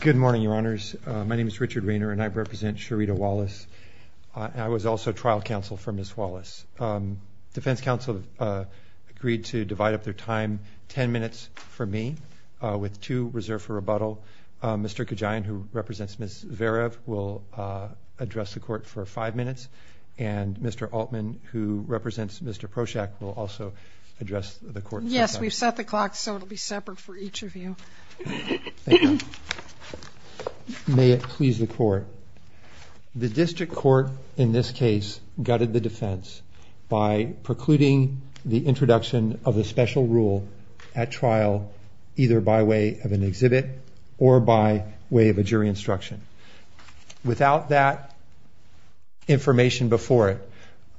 Good morning, your honors. My name is Richard Raynor and I represent Sharetta Wallace. I was also trial counsel for Ms. Wallace. Defense counsel agreed to divide up their time ten minutes for me with two reserved for rebuttal. Mr. Kejain, who represents Ms. Varev, will address the court for five minutes and Mr. Altman, who represents Mr. Proshak, will also address the court. Yes, we've set the clock so it'll be separate for each of you. May it please the court. The district court in this case gutted the defense by precluding the introduction of a special rule at trial either by way of an exhibit or by way of a jury instruction. Without that information before it,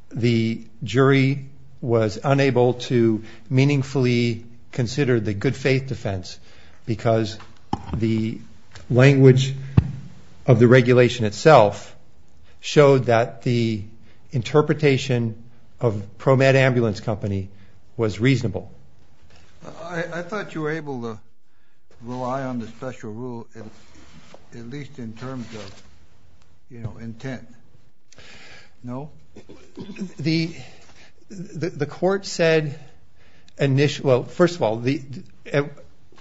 the jury was unable to consider the good-faith defense because the language of the regulation itself showed that the interpretation of ProMed Ambulance Company was reasonable. I thought you were able to rely on the special rule, at least in terms of, you The court said, well first of all,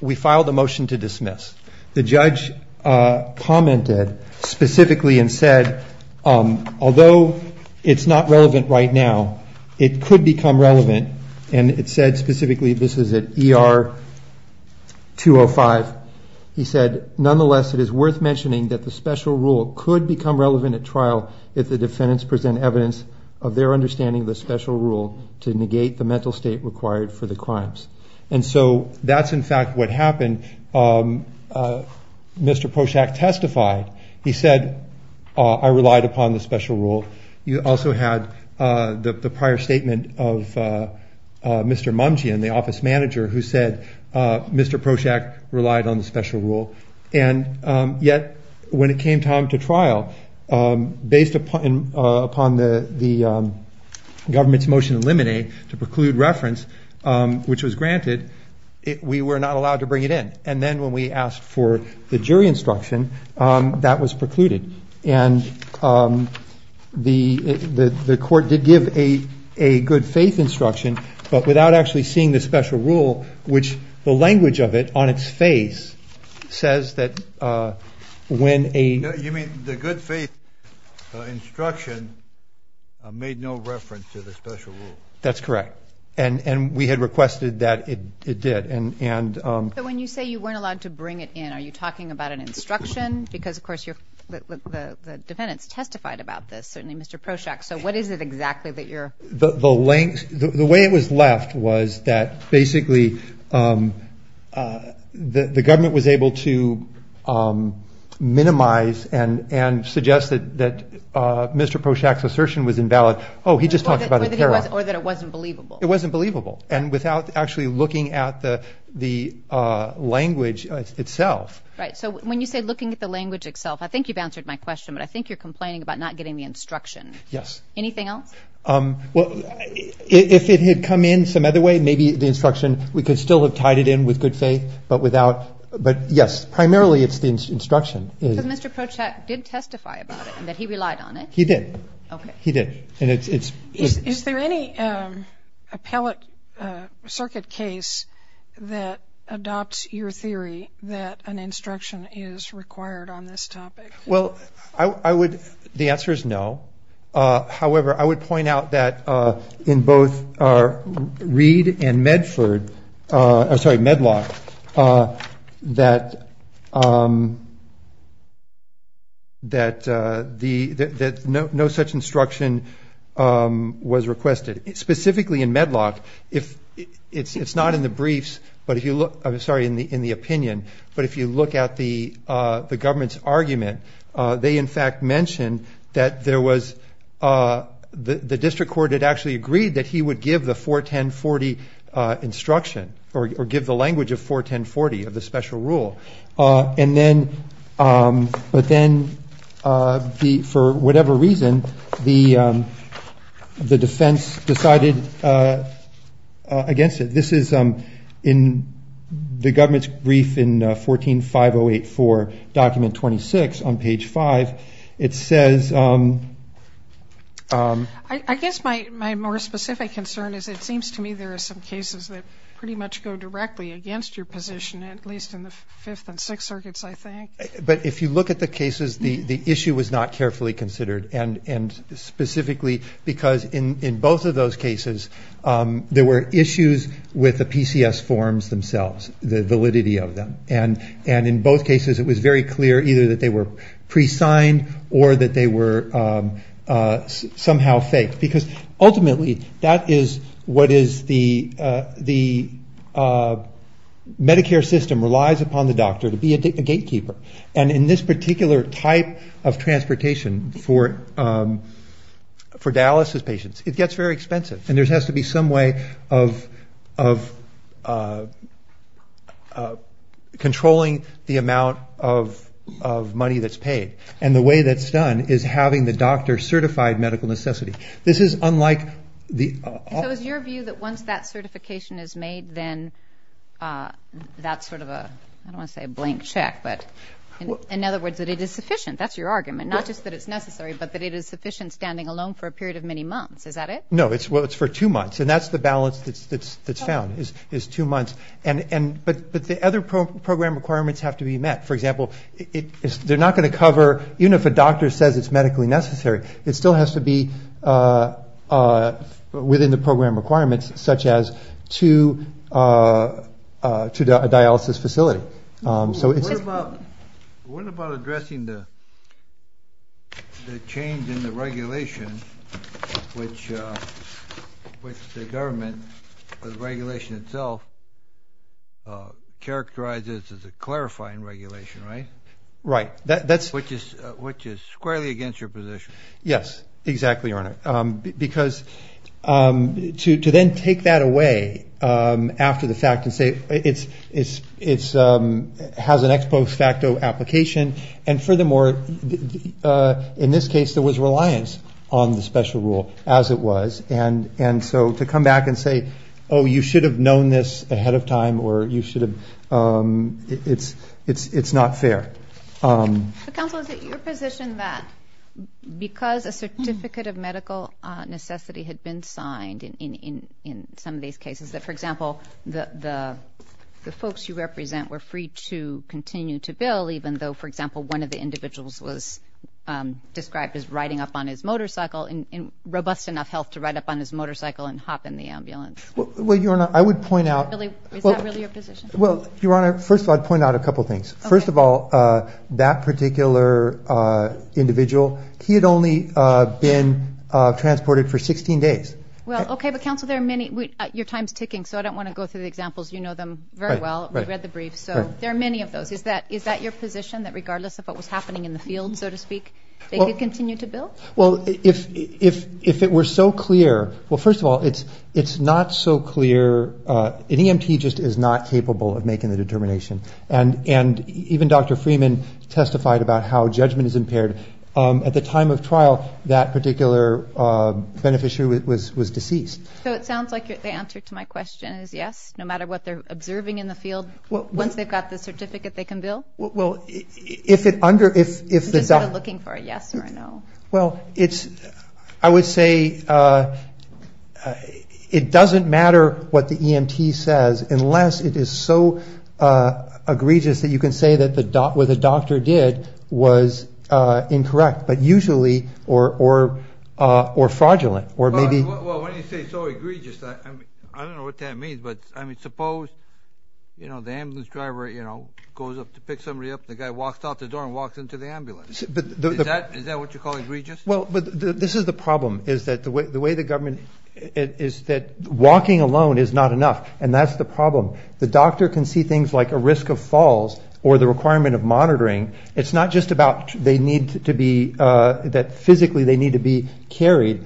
we filed a motion to dismiss. The judge commented specifically and said, although it's not relevant right now, it could become relevant and it said specifically, this is at ER 205, he said nonetheless it is worth mentioning that the special rule could become relevant at trial if the defendants present evidence of their understanding of the special rule to negate the mental state required for the crimes. And so that's in fact what happened. Mr. Prochak testified. He said, I relied upon the special rule. You also had the prior statement of Mr. Mungian, the office manager, who said Mr. Prochak relied on the special rule and yet when it came time to trial, based upon the government's motion to eliminate, to preclude reference, which was granted, we were not allowed to bring it in. And then when we asked for the jury instruction, that was precluded. And the court did give a good-faith instruction but without actually seeing the special rule, which the language of it on its face says that when a... You mean the good-faith instruction made no reference to the special rule. That's correct. And we had requested that it did. And when you say you weren't allowed to bring it in, are you talking about an instruction? Because of course the defendants testified about this, certainly Mr. Prochak. So what is it exactly that you're... The way it was left was that basically the government was able to minimize and suggest that Mr. Prochak's assertion was invalid. Oh, he just talked about... Or that it wasn't believable. It wasn't believable. And without actually looking at the language itself. Right, so when you say looking at the language itself, I think you've answered my question, but I think you're complaining about not getting the instruction. Yes. Anything else? Well, if it had come in some other way, maybe the instruction, we could still have tied it in with good faith, but without... But yes, primarily it's the instruction. Because Mr. Prochak did testify about it and that he relied on it? He did. Okay. He did. And it's... Is there any appellate circuit case that adopts your theory that an instruction is required on this topic? Well, I would... The answer is no. However, I would point out that in both Reed and Medford... I'm sorry, Medlock, that no such instruction was requested. Specifically in Medlock, it's not in the briefs, but if you look... I'm sorry, in the opinion, but if you look at the instruction, there was... The district court had actually agreed that he would give the 41040 instruction, or give the language of 41040, of the special rule. But then, for whatever reason, the defense decided against it. This is in the government's brief in 14.508.4, document 26, on page 5. It says... I guess my more specific concern is, it seems to me there are some cases that pretty much go directly against your position, at least in the 5th and 6th circuits, I think. But if you look at the cases, the issue was not carefully considered. And specifically, because in both of those cases, there were issues with the PCS forms themselves, the validity of them. And in both cases, it was very clear either that they were pre-signed, or that they were somehow faked. Because ultimately, that is what is the... Medicare system relies upon the doctor to be a gatekeeper. And in this particular type of transportation for dialysis patients, it gets very expensive. And there has to be some way of controlling the amount of money that's paid. And the way that's done is having the doctor certify medical necessity. This is unlike the... for two months. And that's the balance that's found, is two months. But the other program requirements have to be met. For example, they're not going to cover... even if a doctor says it's medically necessary, it still has to be within the program requirements, such as to a dialysis facility. What about addressing the change in the regulation, which the government, the regulation itself, characterizes as a clarifying regulation, right? Right. Which is squarely against your position. Yes, exactly, Your Honor. Because to then take that away after the fact and say it has an ex post facto application, and furthermore, in this case, there was reliance on the special rule, as it was. And so to come back and say, oh, you should have known this ahead of time, or you should have... it's not fair. But counsel, is it your position that because a certificate of medical necessity had been signed in some of these cases, that, for example, the folks you represent were free to continue to bill, even though, for example, one of the individuals was described as riding up on his motorcycle in robust enough health to ride up on his motorcycle and hop in the ambulance? Well, Your Honor, I would point out... Is that really your position? Well, Your Honor, first of all, I'd point out a couple of things. First of all, that particular individual, he had only been transported for 16 days. Well, okay, but counsel, there are many... your time's ticking, so I don't want to go through the examples. You know them very well. We read the briefs. So there are many of those. Is that your position, that regardless of what was happening in the field, so to speak, they could continue to bill? Well, if it were so clear... well, first of all, it's not so clear... an EMT just is not capable of making the determination. And even Dr. Freeman testified about how judgment is impaired. At the time of trial, that particular beneficiary was deceased. So it sounds like the answer to my question is yes, no matter what they're observing in the field, once they've got the certificate, they can bill? Well, if it under... Is it looking for a yes or a no? Well, it's... I would say it doesn't matter what the EMT says unless it is so egregious that you can say that what the doctor did was incorrect, but usually... or fraudulent. Well, when you say so egregious, I don't know what that means. But, I mean, suppose, you know, the ambulance driver, you know, goes up to pick somebody up, the guy walks out the door and walks into the ambulance. Is that what you call egregious? Well, but this is the problem, is that the way the government... is that walking alone is not enough. And that's the problem. The doctor can see things like a risk of falls or the requirement of monitoring. It's not just about they need to be... that physically they need to be carried.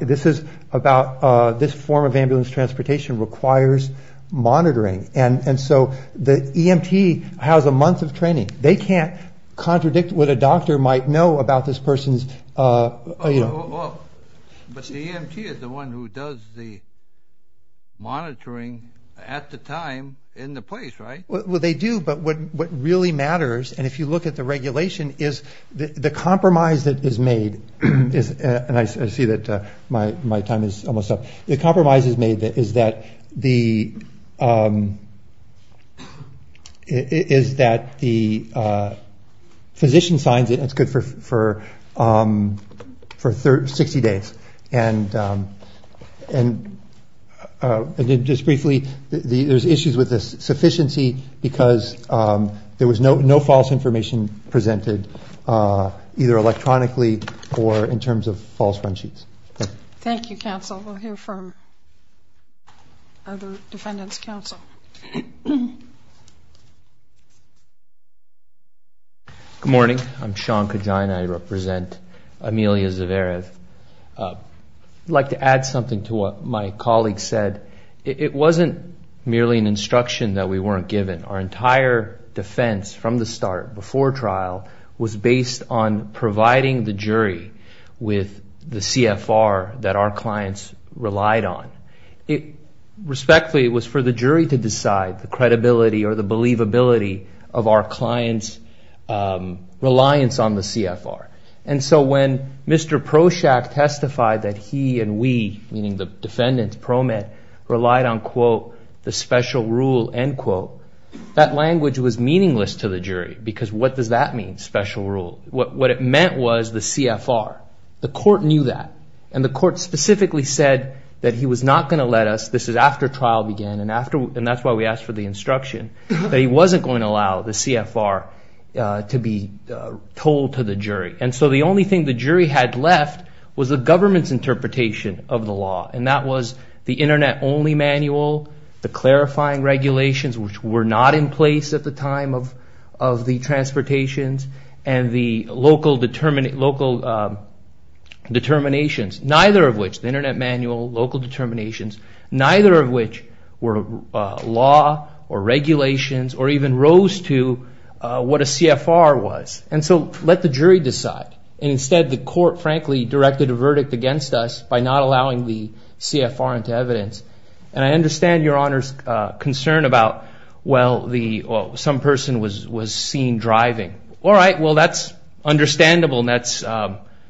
This is about... this form of ambulance transportation requires monitoring. And so the EMT has a month of training. They can't contradict what a doctor might know about this person's... But the EMT is the one who does the monitoring at the time in the place, right? Well, they do. But what really matters, and if you look at the regulation, is the compromise that is made. And I see that my time is almost up. The compromise that is made is that the physician signs it, and it's good for 60 days. And just briefly, there's issues with the sufficiency because there was no false information presented, either electronically or in terms of false run sheets. Thank you. Thank you, counsel. We'll hear from other defendants' counsel. Good morning. I'm Sean Kajan. And I represent Amelia Zverev. I'd like to add something to what my colleague said. It wasn't merely an instruction that we weren't given. Our entire defense from the start, before trial, was based on providing the jury with the CFR that our clients relied on. Respectfully, it was for the jury to decide the credibility or the believability of our clients' reliance on the CFR. And so when Mr. Proshak testified that he and we, meaning the defendants, pro met, relied on, quote, the special rule, end quote, that language was meaningless to the jury because what does that mean, special rule? What it meant was the CFR. The court knew that. And the court specifically said that he was not going to let us, this is after trial began, and that's why we asked for the instruction, that he wasn't going to allow the CFR to be told to the jury. And so the only thing the jury had left was the government's interpretation of the law, and that was the internet-only manual, the clarifying regulations, which were not in place at the time of the transportations, and the local determinations, neither of which, the internet manual, local determinations, neither of which were law or regulations or even rose to what a CFR was. And so let the jury decide. And instead, the court, frankly, directed a verdict against us by not allowing the CFR into evidence. And I understand Your Honor's concern about, well, some person was seen driving. All right, well, that's understandable and that's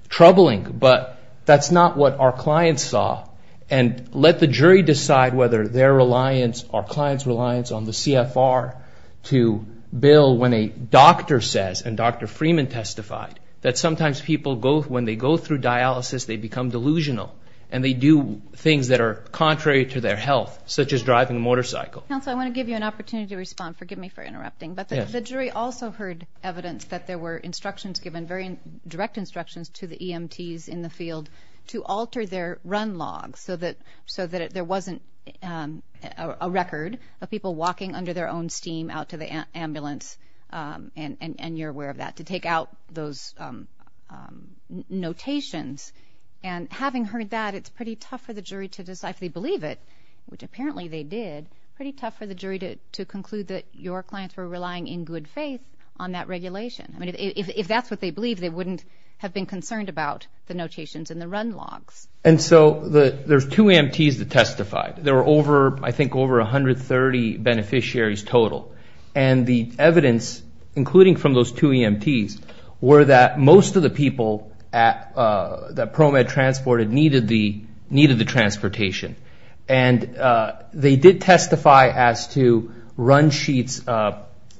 troubling, but that's not what our clients saw. And let the jury decide whether their reliance or clients' reliance on the CFR to bill when a doctor says, and Dr. Freeman testified, that sometimes people, when they go through dialysis, they become delusional and they do things that are contrary to their health, such as driving a motorcycle. Counsel, I want to give you an opportunity to respond. Forgive me for interrupting, but the jury also heard evidence that there were instructions given, very direct instructions to the EMTs in the field to alter their run log so that there wasn't a record of people walking under their own steam out to the ambulance, and you're aware of that, to take out those notations. And having heard that, it's pretty tough for the jury to decide if they believe it, which apparently they did, pretty tough for the jury to conclude that your clients were relying in good faith on that regulation. I mean, if that's what they believe, they wouldn't have been concerned about the notations in the run logs. And so there's two EMTs that testified. There were over, I think, over 130 beneficiaries total. And the evidence, including from those two EMTs, were that most of the people that ProMed transported needed the transportation. And they did testify as to run sheets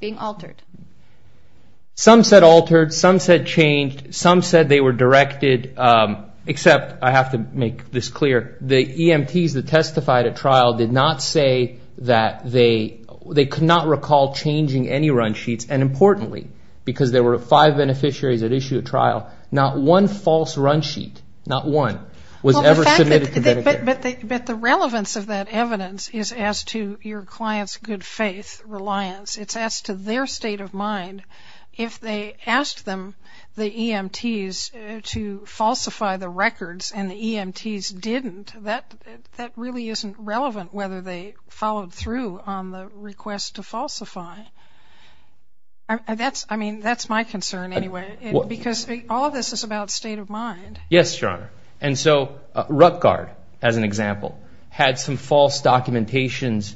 being altered. Some said altered, some said changed, some said they were directed, except I have to make this clear, the EMTs that testified at trial did not say that they could not recall changing any run sheets. And importantly, because there were five beneficiaries at issue at trial, not one false run sheet, not one, was ever submitted to Medicare. But the relevance of that evidence is as to your clients' good faith reliance. It's as to their state of mind. If they asked them, the EMTs, to falsify the records and the EMTs didn't, that really isn't relevant whether they followed through on the request to falsify. I mean, that's my concern anyway, because all of this is about state of mind. Yes, Your Honor. And so Rutgard, as an example, had some false documentations,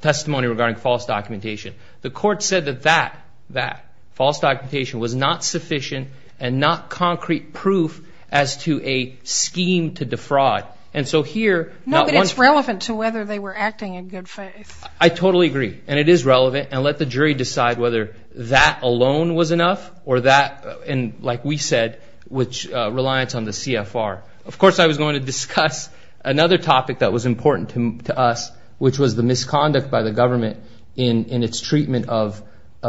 testimony regarding false documentation. The court said that that, that false documentation was not sufficient and not concrete proof as to a scheme to defraud. And so here, not one. No, but it's relevant to whether they were acting in good faith. I totally agree. And it is relevant. And let the jury decide whether that alone was enough or that, like we said, which reliance on the CFR. Of course, I was going to discuss another topic that was important to us, which was the misconduct by the government in its treatment of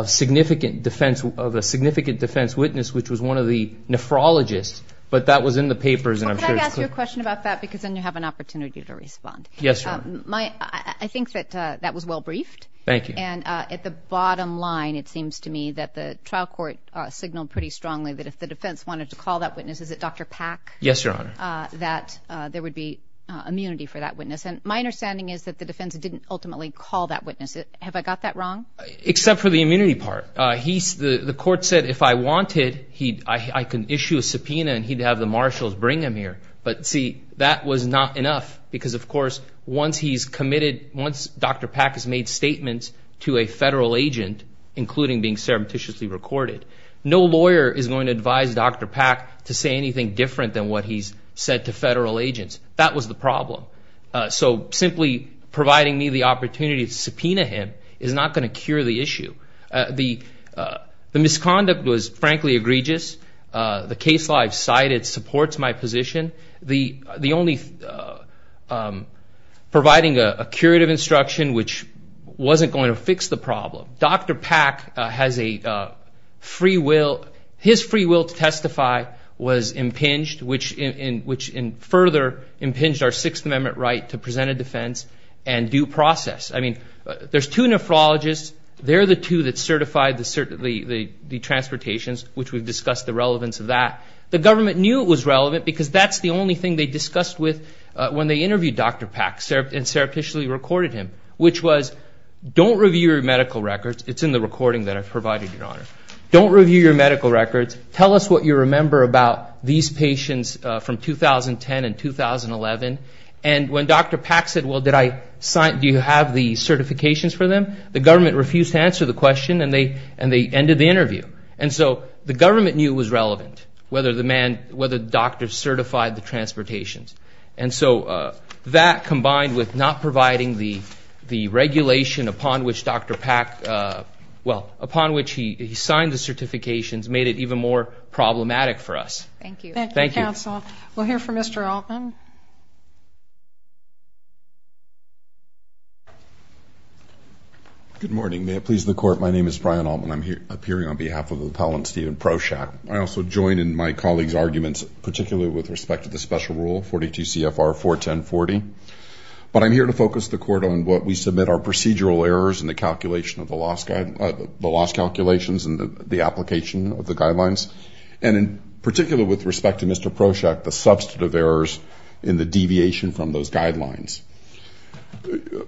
significant defense, of a significant defense witness, which was one of the nephrologists. But that was in the papers, and I'm sure it's clear. Well, can I ask you a question about that? Because then you have an opportunity to respond. Yes, Your Honor. I think that that was well briefed. Thank you. And at the bottom line, it seems to me that the trial court signaled pretty strongly that if the defense wanted to call that witness, is it Dr. Pack? Yes, Your Honor. That there would be immunity for that witness. And my understanding is that the defense didn't ultimately call that witness. Have I got that wrong? Except for the immunity part. The court said if I wanted, I could issue a subpoena and he'd have the marshals bring him here. But, see, that was not enough because, of course, once he's committed, once Dr. Pack has made statements to a federal agent, including being surreptitiously recorded, no lawyer is going to advise Dr. Pack to say anything different than what he's said to federal agents. That was the problem. So simply providing me the opportunity to subpoena him is not going to cure the issue. The misconduct was, frankly, egregious. The case law I've cited supports my position. Providing a curative instruction, which wasn't going to fix the problem. Dr. Pack has a free will. His free will to testify was impinged, which further impinged our Sixth Amendment right to present a defense and due process. I mean, there's two nephrologists. They're the two that certified the transportations, which we've discussed the relevance of that. The government knew it was relevant because that's the only thing they discussed with when they interviewed Dr. Pack and surreptitiously recorded him, which was, don't review your medical records. It's in the recording that I've provided, Your Honor. Don't review your medical records. Tell us what you remember about these patients from 2010 and 2011. And when Dr. Pack said, well, did I sign, do you have the certifications for them, the government refused to answer the question and they ended the interview. And so the government knew it was relevant, whether the doctor certified the transportations. And so that, combined with not providing the regulation upon which Dr. Pack, well, upon which he signed the certifications, made it even more problematic for us. Thank you. Thank you, counsel. We'll hear from Mr. Altman. Good morning. May it please the Court, my name is Brian Altman. I'm appearing on behalf of the appellant, Stephen Prochak. I also join in my colleague's arguments, particularly with respect to the special rule, 42 CFR 41040. But I'm here to focus the Court on what we submit are procedural errors in the calculation of the loss calculations and the application of the guidelines. And in particular, with respect to Mr. Prochak, the substantive errors in the deviation from those guidelines.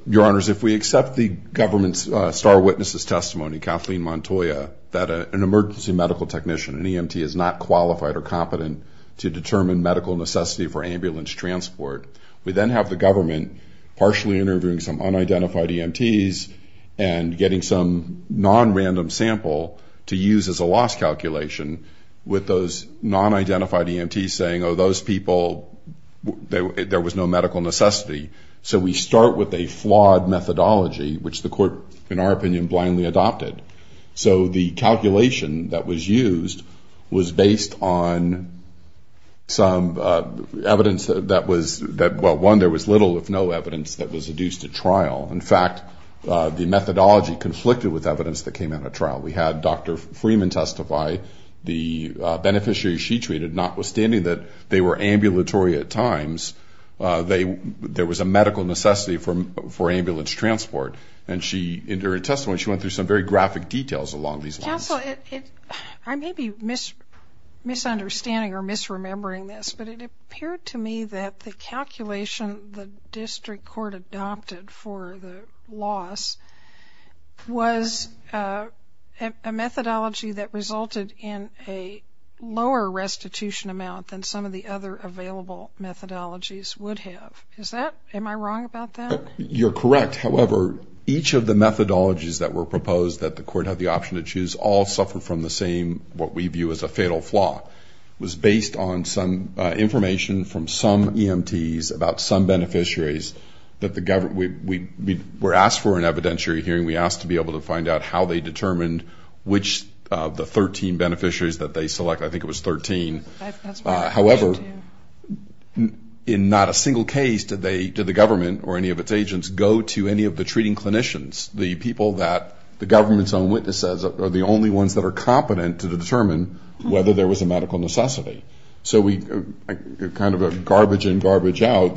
Your Honors, if we accept the government's star witness's testimony, Kathleen Montoya, that an emergency medical technician, an EMT, is not qualified or competent to determine medical necessity for ambulance transport, we then have the government partially interviewing some unidentified EMTs and getting some non-random sample to use as a loss calculation with those non-identified EMTs saying, oh, those people, there was no medical necessity. So we start with a flawed methodology, which the Court, in our opinion, blindly adopted. So the calculation that was used was based on some evidence that was, well, one, there was little if no evidence that was adduced at trial. In fact, the methodology conflicted with evidence that came out of trial. We had Dr. Freeman testify, the beneficiaries she treated, notwithstanding that they were ambulatory at times, there was a medical necessity for ambulance transport. And she, in her testimony, she went through some very graphic details along these lines. Counsel, I may be misunderstanding or misremembering this, but it appeared to me that the calculation the District Court adopted for the loss was a methodology that resulted in a lower restitution amount than some of the other available methodologies would have. Is that, am I wrong about that? You're correct. However, each of the methodologies that were proposed that the Court had the option to choose all suffered from the same, what we view as a fatal flaw, was based on some information from some EMTs about some beneficiaries that the government, we were asked for an evidentiary hearing. We asked to be able to find out how they determined which of the 13 beneficiaries that they selected. I think it was 13. However, in not a single case did the government or any of its agents go to any of the treating clinicians, the people that the government's own witnesses are the only ones that are competent to determine whether there was a medical necessity. So we kind of garbage in, garbage out.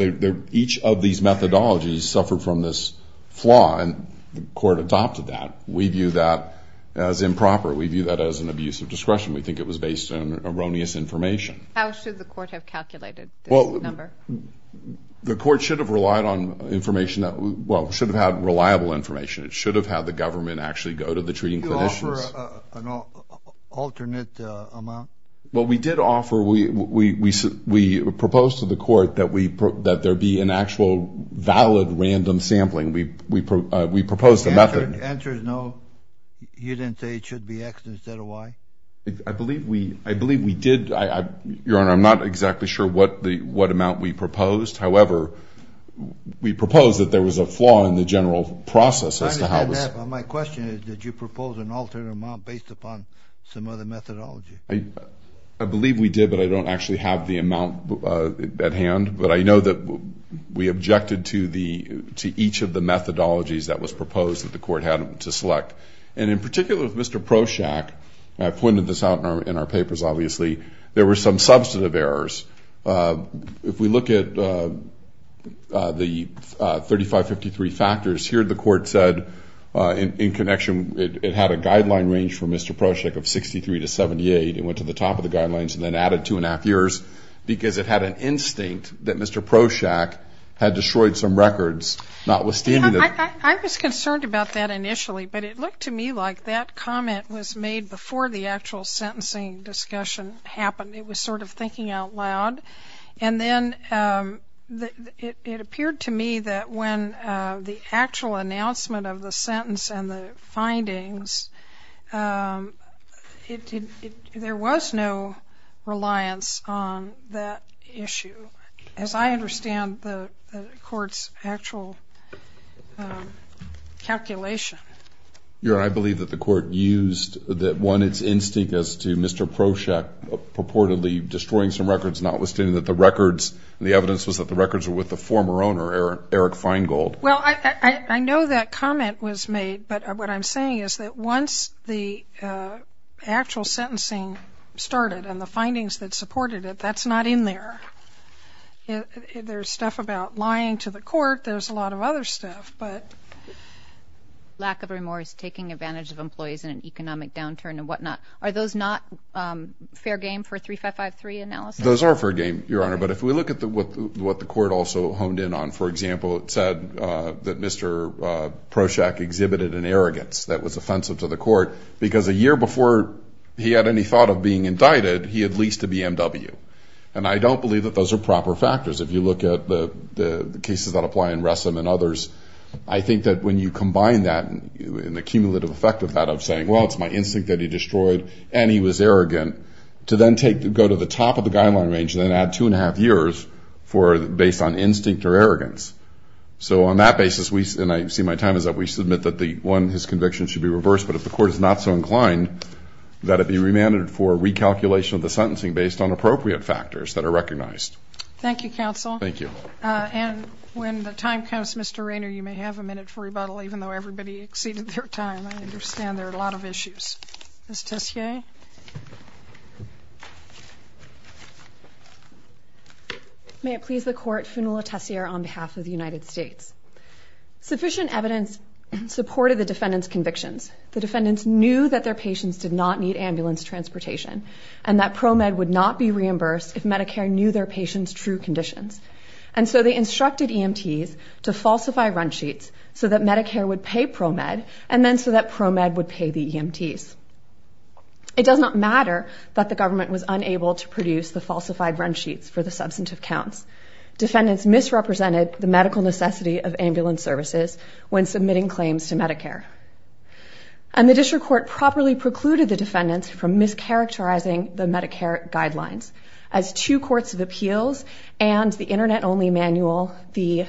Each of these methodologies suffered from this flaw, and the Court adopted that. We view that as improper. We view that as an abuse of discretion. We think it was based on erroneous information. How should the Court have calculated this number? The Court should have relied on information that, well, should have had reliable information. It should have had the government actually go to the treating clinicians. Did you offer an alternate amount? Well, we did offer, we proposed to the Court that there be an actual valid random sampling. We proposed a method. The answer is no. You didn't say it should be X instead of Y? I believe we did. Your Honor, I'm not exactly sure what amount we proposed. However, we proposed that there was a flaw in the general process. I understand that, but my question is did you propose an alternate amount based upon some other methodology? I believe we did, but I don't actually have the amount at hand. But I know that we objected to each of the methodologies that was proposed that the Court had to select. And in particular with Mr. Proshak, and I pointed this out in our papers, obviously, there were some substantive errors. If we look at the 3553 factors, here the Court said in connection, it had a guideline range for Mr. Proshak of 63 to 78. It went to the top of the guidelines and then added two and a half years because it had an instinct that Mr. Proshak had destroyed some records, notwithstanding that. I was concerned about that initially, but it looked to me like that comment was made before the actual sentencing discussion happened. It was sort of thinking out loud. And then it appeared to me that when the actual announcement of the sentence and the findings, there was no reliance on that issue. As I understand the Court's actual calculation. Your Honor, I believe that the Court used that one, its instinct as to Mr. Proshak purportedly destroying some records, notwithstanding that the records, the evidence was that the records were with the former owner, Eric Feingold. Well, I know that comment was made, but what I'm saying is that once the actual sentencing started and the findings that supported it, that's not in there. There's stuff about lying to the Court. There's a lot of other stuff, but lack of remorse, taking advantage of employees in an economic downturn and whatnot. Are those not fair game for 3553 analysis? Those are fair game, Your Honor, but if we look at what the Court also honed in on, for example, it said that Mr. Proshak exhibited an arrogance that was offensive to the Court, because a year before he had any thought of being indicted, he had leased a BMW. And I don't believe that those are proper factors. If you look at the cases that apply in Ressam and others, I think that when you combine that, and the cumulative effect of that of saying, well, it's my instinct that he destroyed and he was arrogant, to then go to the top of the guideline range and then add two and a half years based on instinct or arrogance. So on that basis, and I see my time is up, we submit that one, his conviction should be reversed, but if the Court is not so inclined, that it be remanded for recalculation of the sentencing based on appropriate factors that are recognized. Thank you, Counsel. Thank you. And when the time comes, Mr. Rayner, you may have a minute for rebuttal, even though everybody exceeded their time. I understand there are a lot of issues. Ms. Tessier? May it please the Court, Funula Tessier on behalf of the United States. Sufficient evidence supported the defendant's convictions. The defendants knew that their patients did not need ambulance transportation, and that ProMed would not be reimbursed if Medicare knew their patients' true conditions. And so they instructed EMTs to falsify run sheets so that Medicare would pay ProMed, and then so that ProMed would pay the EMTs. It does not matter that the government was unable to produce the falsified run sheets for the substantive counts. Defendants misrepresented the medical necessity of ambulance services when submitting claims to Medicare. And the District Court properly precluded the defendants from mischaracterizing the Medicare guidelines. As two courts of appeals and the Internet-only manual, the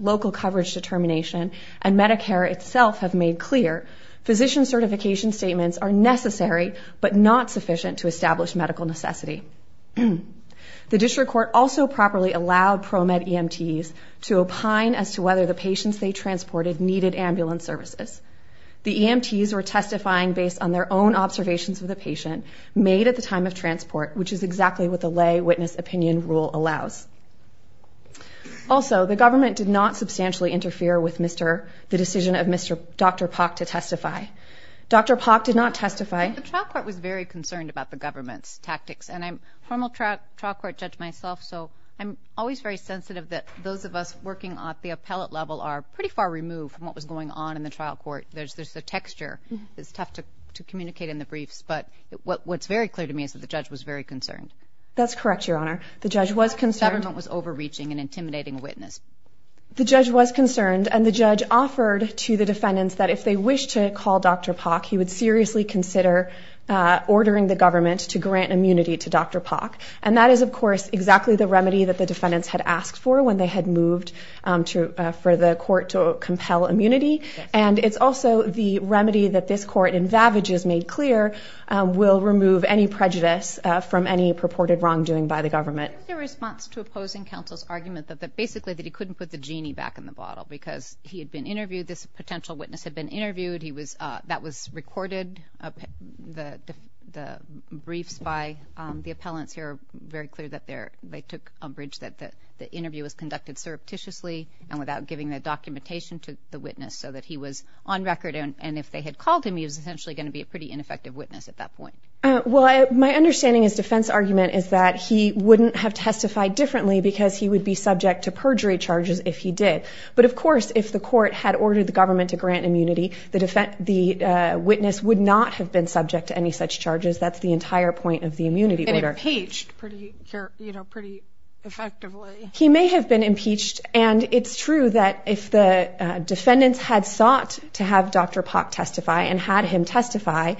local coverage determination, and Medicare itself have made clear, physician certification statements are necessary but not sufficient to establish medical necessity. The District Court also properly allowed ProMed EMTs to opine as to whether the patients they transported needed ambulance services. The EMTs were testifying based on their own observations of the patient made at the time of transport, which is exactly what the lay witness opinion rule allows. Also, the government did not substantially interfere with the decision of Dr. Pak to testify. Dr. Pak did not testify... I'm a formal trial court judge myself, so I'm always very sensitive that those of us working at the appellate level are pretty far removed from what was going on in the trial court. There's the texture. It's tough to communicate in the briefs, but what's very clear to me is that the judge was very concerned. That's correct, Your Honor. The judge was concerned... The government was overreaching and intimidating a witness. The judge was concerned, and the judge offered to the defendants that if they wished to call Dr. Pak, he would seriously consider ordering the government to grant immunity to Dr. Pak. And that is, of course, exactly the remedy that the defendants had asked for when they had moved for the court to compel immunity. And it's also the remedy that this court in Vavage has made clear will remove any prejudice from any purported wrongdoing by the government. Is there a response to opposing counsel's argument that basically he couldn't put the genie back in the bottle because he had been interviewed, this potential witness had been interviewed, that was recorded, the briefs by the appellants here are very clear that they took umbrage that the interview was conducted surreptitiously and without giving the documentation to the witness so that he was on record and if they had called him, he was essentially going to be a pretty ineffective witness at that point. Well, my understanding of his defense argument is that he wouldn't have testified differently because he would be subject to perjury charges if he did. But of course, if the court had ordered the government to grant immunity, the witness would not have been subject to any such charges, that's the entire point of the immunity order. And impeached pretty effectively. He may have been impeached and it's true that if the defendants had sought to have Dr. Pak testify and had him testify,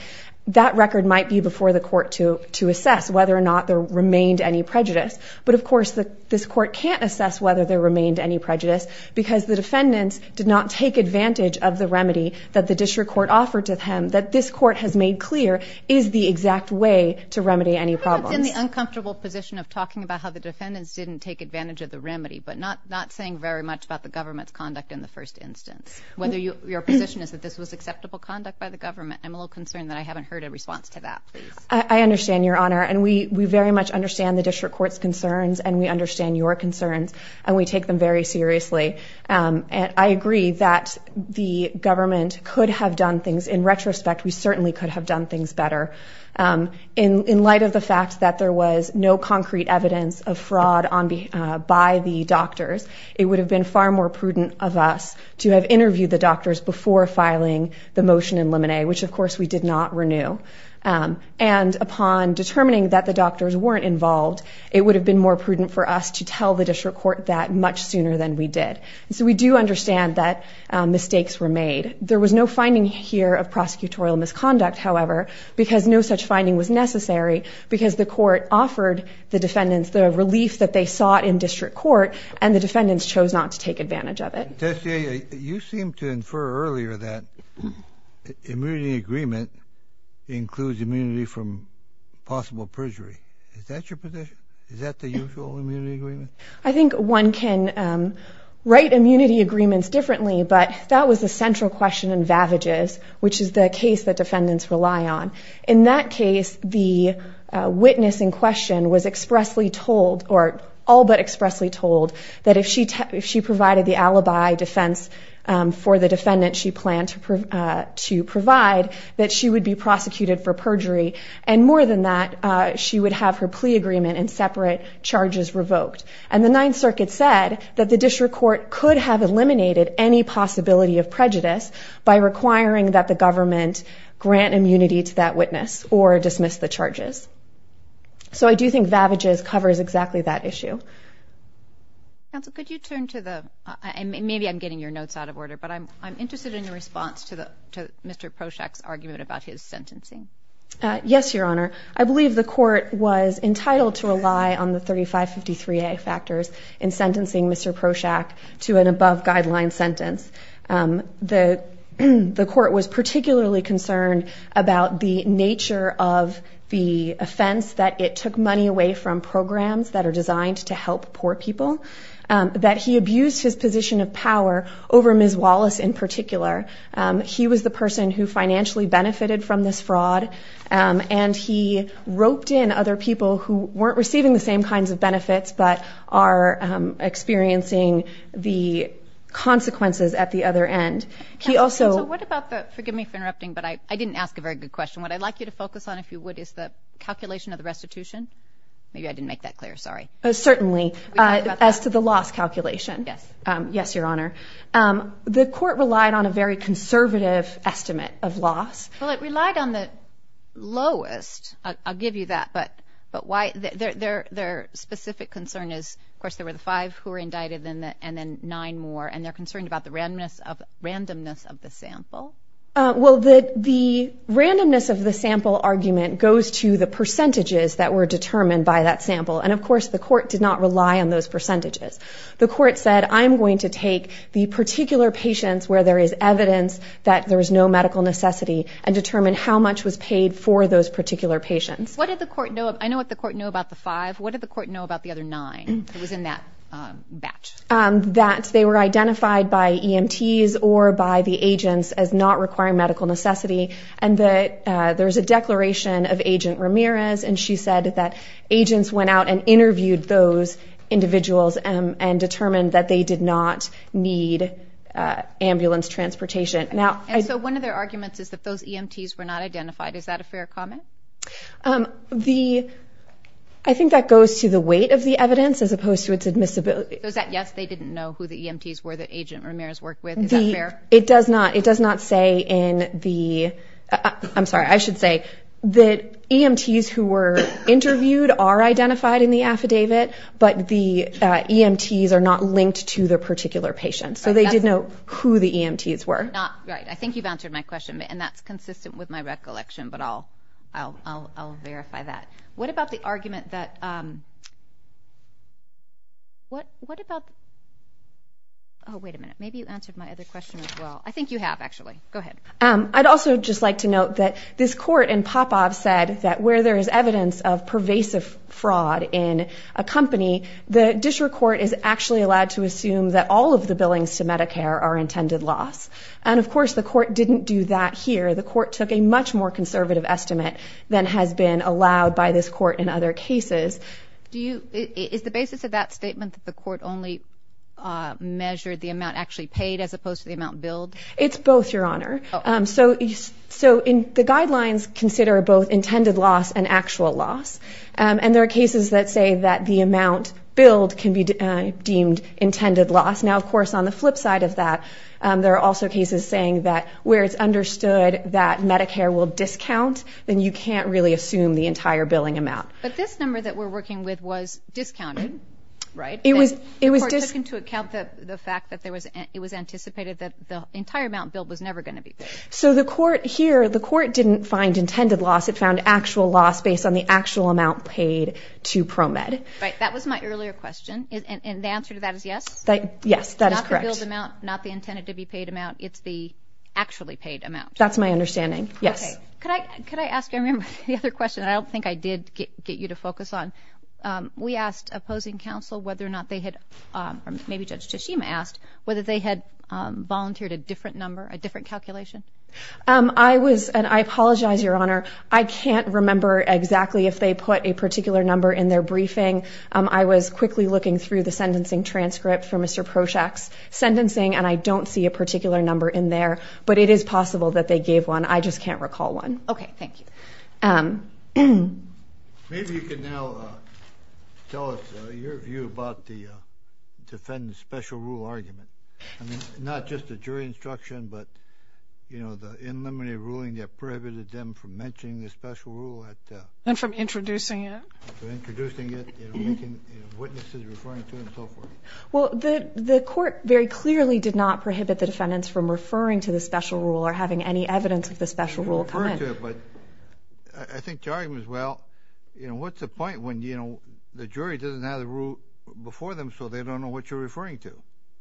that record might be before the court to assess whether or not there remained any prejudice. But of course, this court can't assess whether there remained any prejudice because the defendants did not take advantage of the remedy that the district court offered to him that this court has made clear is the exact way to remedy any problems. I'm in the uncomfortable position of talking about how the defendants didn't take advantage of the remedy but not saying very much about the government's conduct in the first instance. Whether your position is that this was acceptable conduct by the government, I'm a little concerned that I haven't heard a response to that, please. I understand, Your Honor, and we very much understand the district court's concerns and we understand your concerns and we take them very seriously. I agree that the government could have done things in retrospect, we certainly could have done things better. In light of the fact that there was no concrete evidence of fraud by the doctors, it would have been far more prudent of us to have interviewed the doctors before filing the motion in limine, which of course we did not renew. And upon determining that the doctors weren't involved, it would have been more prudent for us to tell the district court that much sooner than we did. So we do understand that mistakes were made. There was no finding here of prosecutorial misconduct, however, because no such finding was necessary because the court offered the defendants the relief that they sought in district court and the defendants chose not to take advantage of it. Testier, you seemed to infer earlier that the immunity agreement includes immunity from possible perjury. Is that your position? Is that the usual immunity agreement? I think one can write immunity agreements differently, but that was the central question in Vavages, which is the case that defendants rely on. In that case, the witness in question was expressly told, or all but expressly told, that if she provided the alibi defense for the defendant she planned to provide, that she would be prosecuted for perjury and more than that, she would have her plea agreement and separate charges revoked. And the Ninth Circuit said that the district court could have eliminated any possibility of prejudice by requiring that the government grant immunity to that witness or dismiss the charges. So I do think Vavages covers exactly that issue. Counsel, could you turn to the... I'm interested in your response to Mr. Prochak's argument about his sentencing. Yes, Your Honor. I believe the court was entitled to rely on the 3553A factors in sentencing Mr. Prochak to an above-guideline sentence. The court was particularly concerned about the nature of the offense, that it took money away from programs that are designed to help poor people, that he abused his position of power over Ms. Wallace in particular. He was the person who financially benefited from this fraud, and he roped in other people who weren't receiving the same kinds of benefits, but are experiencing the consequences at the other end. Counsel, what about the... forgive me for interrupting, but I didn't ask a very good question. What I'd like you to focus on, if you would, is the calculation of the restitution. Maybe I didn't make that clear, sorry. Certainly. As to the loss calculation. Yes. Yes, Your Honor. The court relied on a very conservative estimate of loss. Well, it relied on the lowest. I'll give you that, but why... their specific concern is, of course, there were the five who were indicted and then nine more, and they're concerned about the randomness of the sample. Well, the randomness of the sample argument goes to the percentages that were determined by that sample, and of course the court did not rely on those percentages. The court said, I'm going to take the particular patients where there is evidence that there is no medical necessity, and determine how much was paid for those particular patients. What did the court know? I know what the court knew about the five. What did the court know about the other nine that was in that batch? That they were identified by EMTs or by the agents as not requiring medical necessity, and that there's a declaration of Agent Ramirez, and she said that agents went out and interviewed those individuals and determined that they did not need ambulance transportation. And so one of their arguments is that those EMTs were not identified. Is that a fair comment? The... I think that goes to the weight of the evidence as opposed to its admissibility. Is that yes, they didn't know who the EMTs were that Agent Ramirez worked with? Is that fair? It does not. It does not say in the... I'm sorry, I should say that EMTs who were interviewed are identified in the affidavit, but the EMTs are not linked to the particular patient. So they did know who the EMTs were. Right. I think you've answered my question, and that's consistent with my recollection, but I'll verify that. What about the argument that... What about... Oh, wait a minute. Maybe you answered my other question as well. I think you have, actually. Go ahead. I'd also just like to note that this is a case where there's evidence of pervasive fraud in a company. The district court is actually allowed to assume that all of the billings to Medicare are intended loss. And, of course, the court didn't do that here. The court took a much more conservative estimate than has been allowed by this court in other cases. Do you... Is the basis of that statement that the court only measured the amount actually paid as opposed to the amount billed? It's both, Your Honor. So the guidelines consider both intended loss and actual loss. And there are cases that say that the amount billed can be deemed intended loss. Now, of course, on the flip side of that, there are also cases saying that where it's understood that Medicare will discount, then you can't really assume the entire billing amount. But this number that we're working with was discounted, right? The court took into account the fact that it was anticipated that the entire amount billed was never going to be paid. So the court here... The court didn't find intended loss. It found actual loss based on the actual amount paid to ProMed. Right. That was my earlier question. And the answer to that is yes? Yes, that is correct. Not the billed amount, not the intended-to-be-paid amount. It's the actually paid amount. That's my understanding. Yes. Okay. Could I ask... I remember the other question. I don't think I did get you to focus on. We asked opposing counsel whether or not they had... Or maybe Judge Tashima asked whether they had volunteered a different number, a different calculation? I was... And I apologize, Your Honor. I can't remember exactly if they put a particular number in their briefing. I was quickly looking through the sentencing transcript for Mr. Proshak's sentencing, and I don't see a particular number in there. But it is possible that they gave one. I just can't recall one. Okay. Thank you. Maybe you can now tell us your view about the defendant's special rule argument. I mean, not just a jury instruction, but, you know, the in-memory ruling that prohibited them from mentioning the special rule at... And from introducing it? From introducing it, you know, making witnesses referring to it, and so forth. Well, the court very clearly did not prohibit the defendants from referring to the special rule or having any evidence of the special rule come in. You can refer to it, but I think the argument is, well, you know, what's the point when, you know, the jury doesn't have the rule before them so they don't know what you're referring to,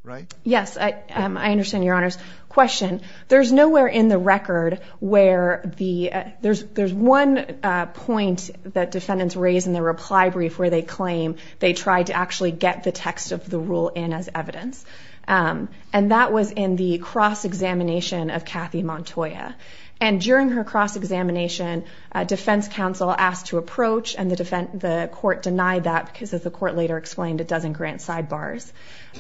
right? Yes, I understand, Your Honors. Question. There's nowhere in the record where the... There's one point that defendants raise in their reply brief where they claim they tried to actually get the text of the rule in as evidence. And that was in the cross-examination of Kathy Montoya. And during her cross-examination, the court later explained it doesn't grant sidebars.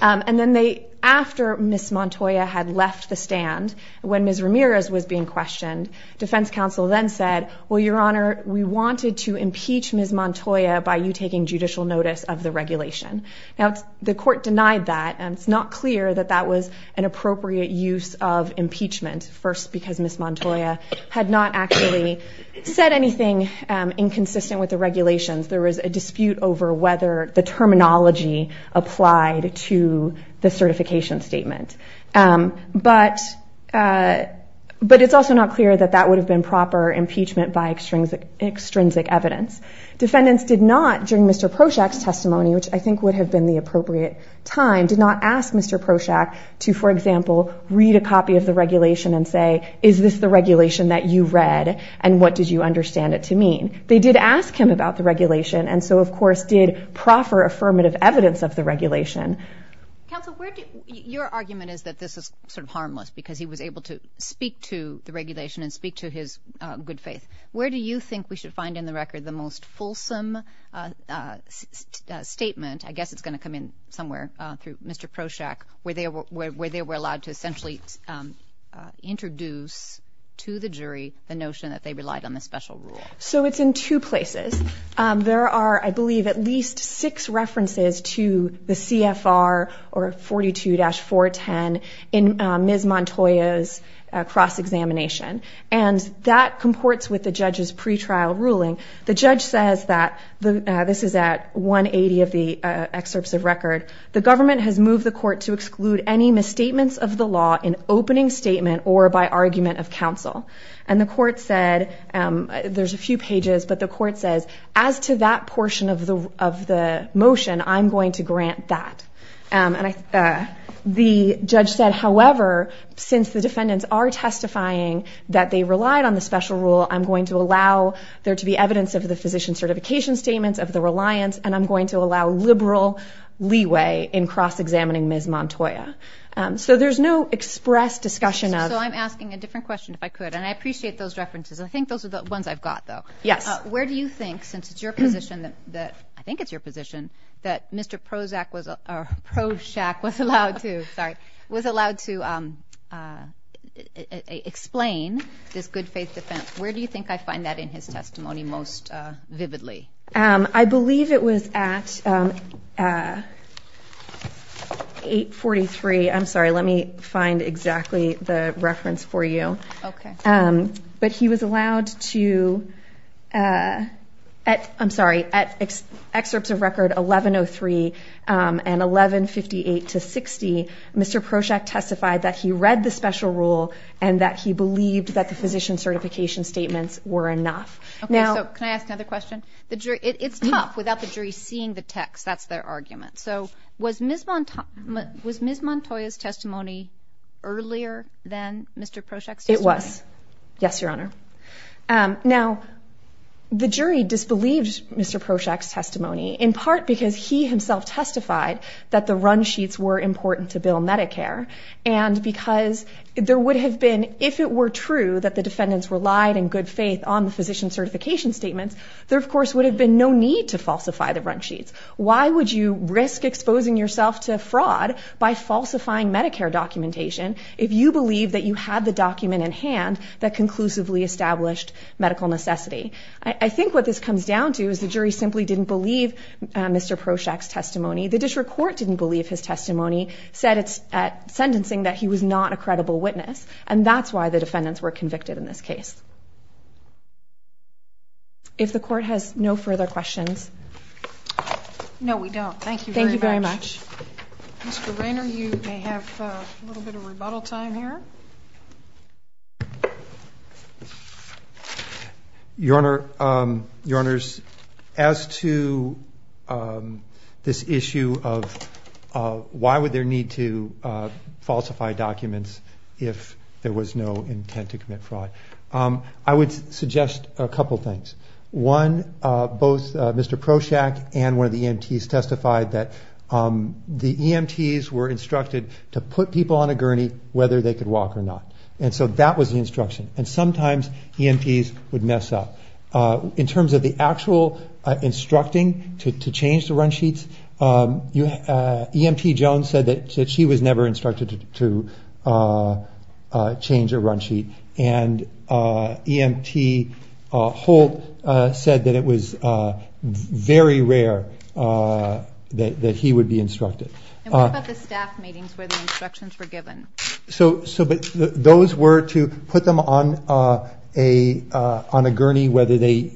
And then they... After Ms. Montoya had left the stand, when Ms. Ramirez was being questioned, defense counsel then said, well, Your Honor, we wanted to impeach Ms. Montoya by you taking judicial notice of the regulation. Now, the court denied that, and it's not clear that that was an appropriate use of impeachment, first because Ms. Montoya had not actually said anything inconsistent with the regulations. There was a dispute over whether the terminology applied to the certification statement. But... But it's also not clear that that would have been proper impeachment by extrinsic evidence. Defendants did not, during Mr. Prochak's testimony, which I think would have been the appropriate time, did not ask Mr. Prochak to, for example, read a copy of the regulation and say, is this the regulation that you read, and what did you understand it to mean? They did ask him about the regulation, and so, of course, did proffer affirmative evidence of the regulation. Counsel, where do... Your argument is that this is sort of harmless, because he was able to speak to the regulation and speak to his good faith. Where do you think we should find in the record the most fulsome statement, I guess it's going to come in somewhere, through Mr. Prochak, where they were allowed to essentially introduce to the jury the notion that they relied on the special rule? So it's in two places. There are, I believe, at least six references to the CFR or 42-410 in Ms. Montoya's cross-examination, and that comports with the judge's pretrial ruling. The judge says that, this is at 180 of the excerpts of record, the government has moved the court to exclude any misstatements of the law in opening statement or by argument of counsel. And the court said, there's a few pages, but the court says, as to that portion of the motion, I'm going to grant that. The judge said, however, since the defendants are testifying that they relied on the special rule, I'm going to allow there to be evidence of the physician certification statements, of the reliance, and I'm going to allow liberal leeway in cross-examining Ms. Montoya. So there's no express discussion of... So I'm asking a different question, if I could, and I appreciate those references. I think those are the ones I've got, though. Yes. Where do you think, since it's your position, I think it's your position, that Mr. Prozac was, or Prochak was allowed to, sorry, was allowed to explain this good faith defense. Where do you think I find that in his testimony most vividly? I believe it was at 843, I'm sorry, let me find exactly the reference for you. But he was allowed to, I'm sorry, at excerpts of record 1103 and 1158-60, Mr. Prochak testified that he read the special rule and that he believed that the physician certification statements were enough. Okay, so can I ask another question? It's tough without the jury seeing the text, that's their argument. So was Ms. Montoya's testimony earlier than Mr. Prochak's testimony? It was. Yes, Your Honor. Now the jury disbelieved Mr. Prochak's testimony, in part because he himself testified that the run sheets were important to bill Medicare and because there would have been, if it were true, that the defendants relied in good faith on the physician certification statements, there of course would have been no need to falsify the run sheets. Why would you risk exposing yourself to fraud by falsifying Medicare documentation if you believe that you had the document in hand that conclusively established medical necessity? I think what this comes down to is the jury simply didn't believe Mr. Prochak's testimony, the district court didn't believe his testimony, said at sentencing that he was not a credible witness, and that's why the defendants were convicted in this case. If the court has no further questions. No, we don't. Thank you very much. Mr. Raynor, you may have a little bit of rebuttal time here. Your Honor, as to this issue of why would there need to falsify documents if there was no intent to commit fraud, I would suggest a couple things. One, both Mr. Prochak and one of the EMTs testified that the EMTs were instructed to put people on a gurney whether they could walk or not, and so that was the instruction, and sometimes EMTs would mess up. In terms of the actual instructing to change the run sheets, EMT Jones said that she was never instructed to change a run sheet, and EMT Holt said that it was very rare that he would be instructed. And what about the staff meetings where the instructions were given? Those were to put them on a gurney whether they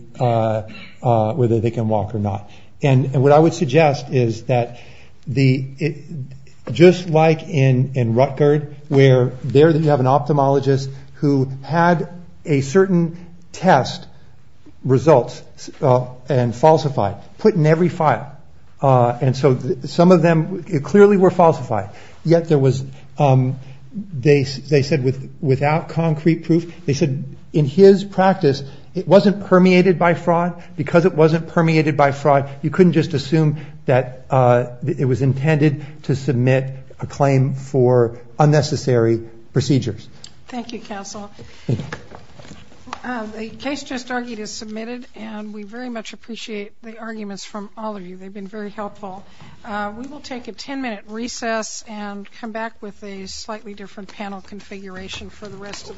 can walk or not, and what I would suggest is that just like in Rutgerd, where there you have an ophthalmologist who had a certain test results and falsified, put in every file, and so some of them clearly were falsified, yet there was they said without concrete proof, they said in his practice it wasn't permeated by fraud, because it wasn't permeated by fraud, you couldn't just assume that it was intended to submit a claim for unnecessary procedures. Thank you, Counsel. The case just argued is submitted, and we very much appreciate the arguments from all of you. They've been very helpful. We will take a 10-minute recess and come back with a slightly different panel configuration for the rest of the docket.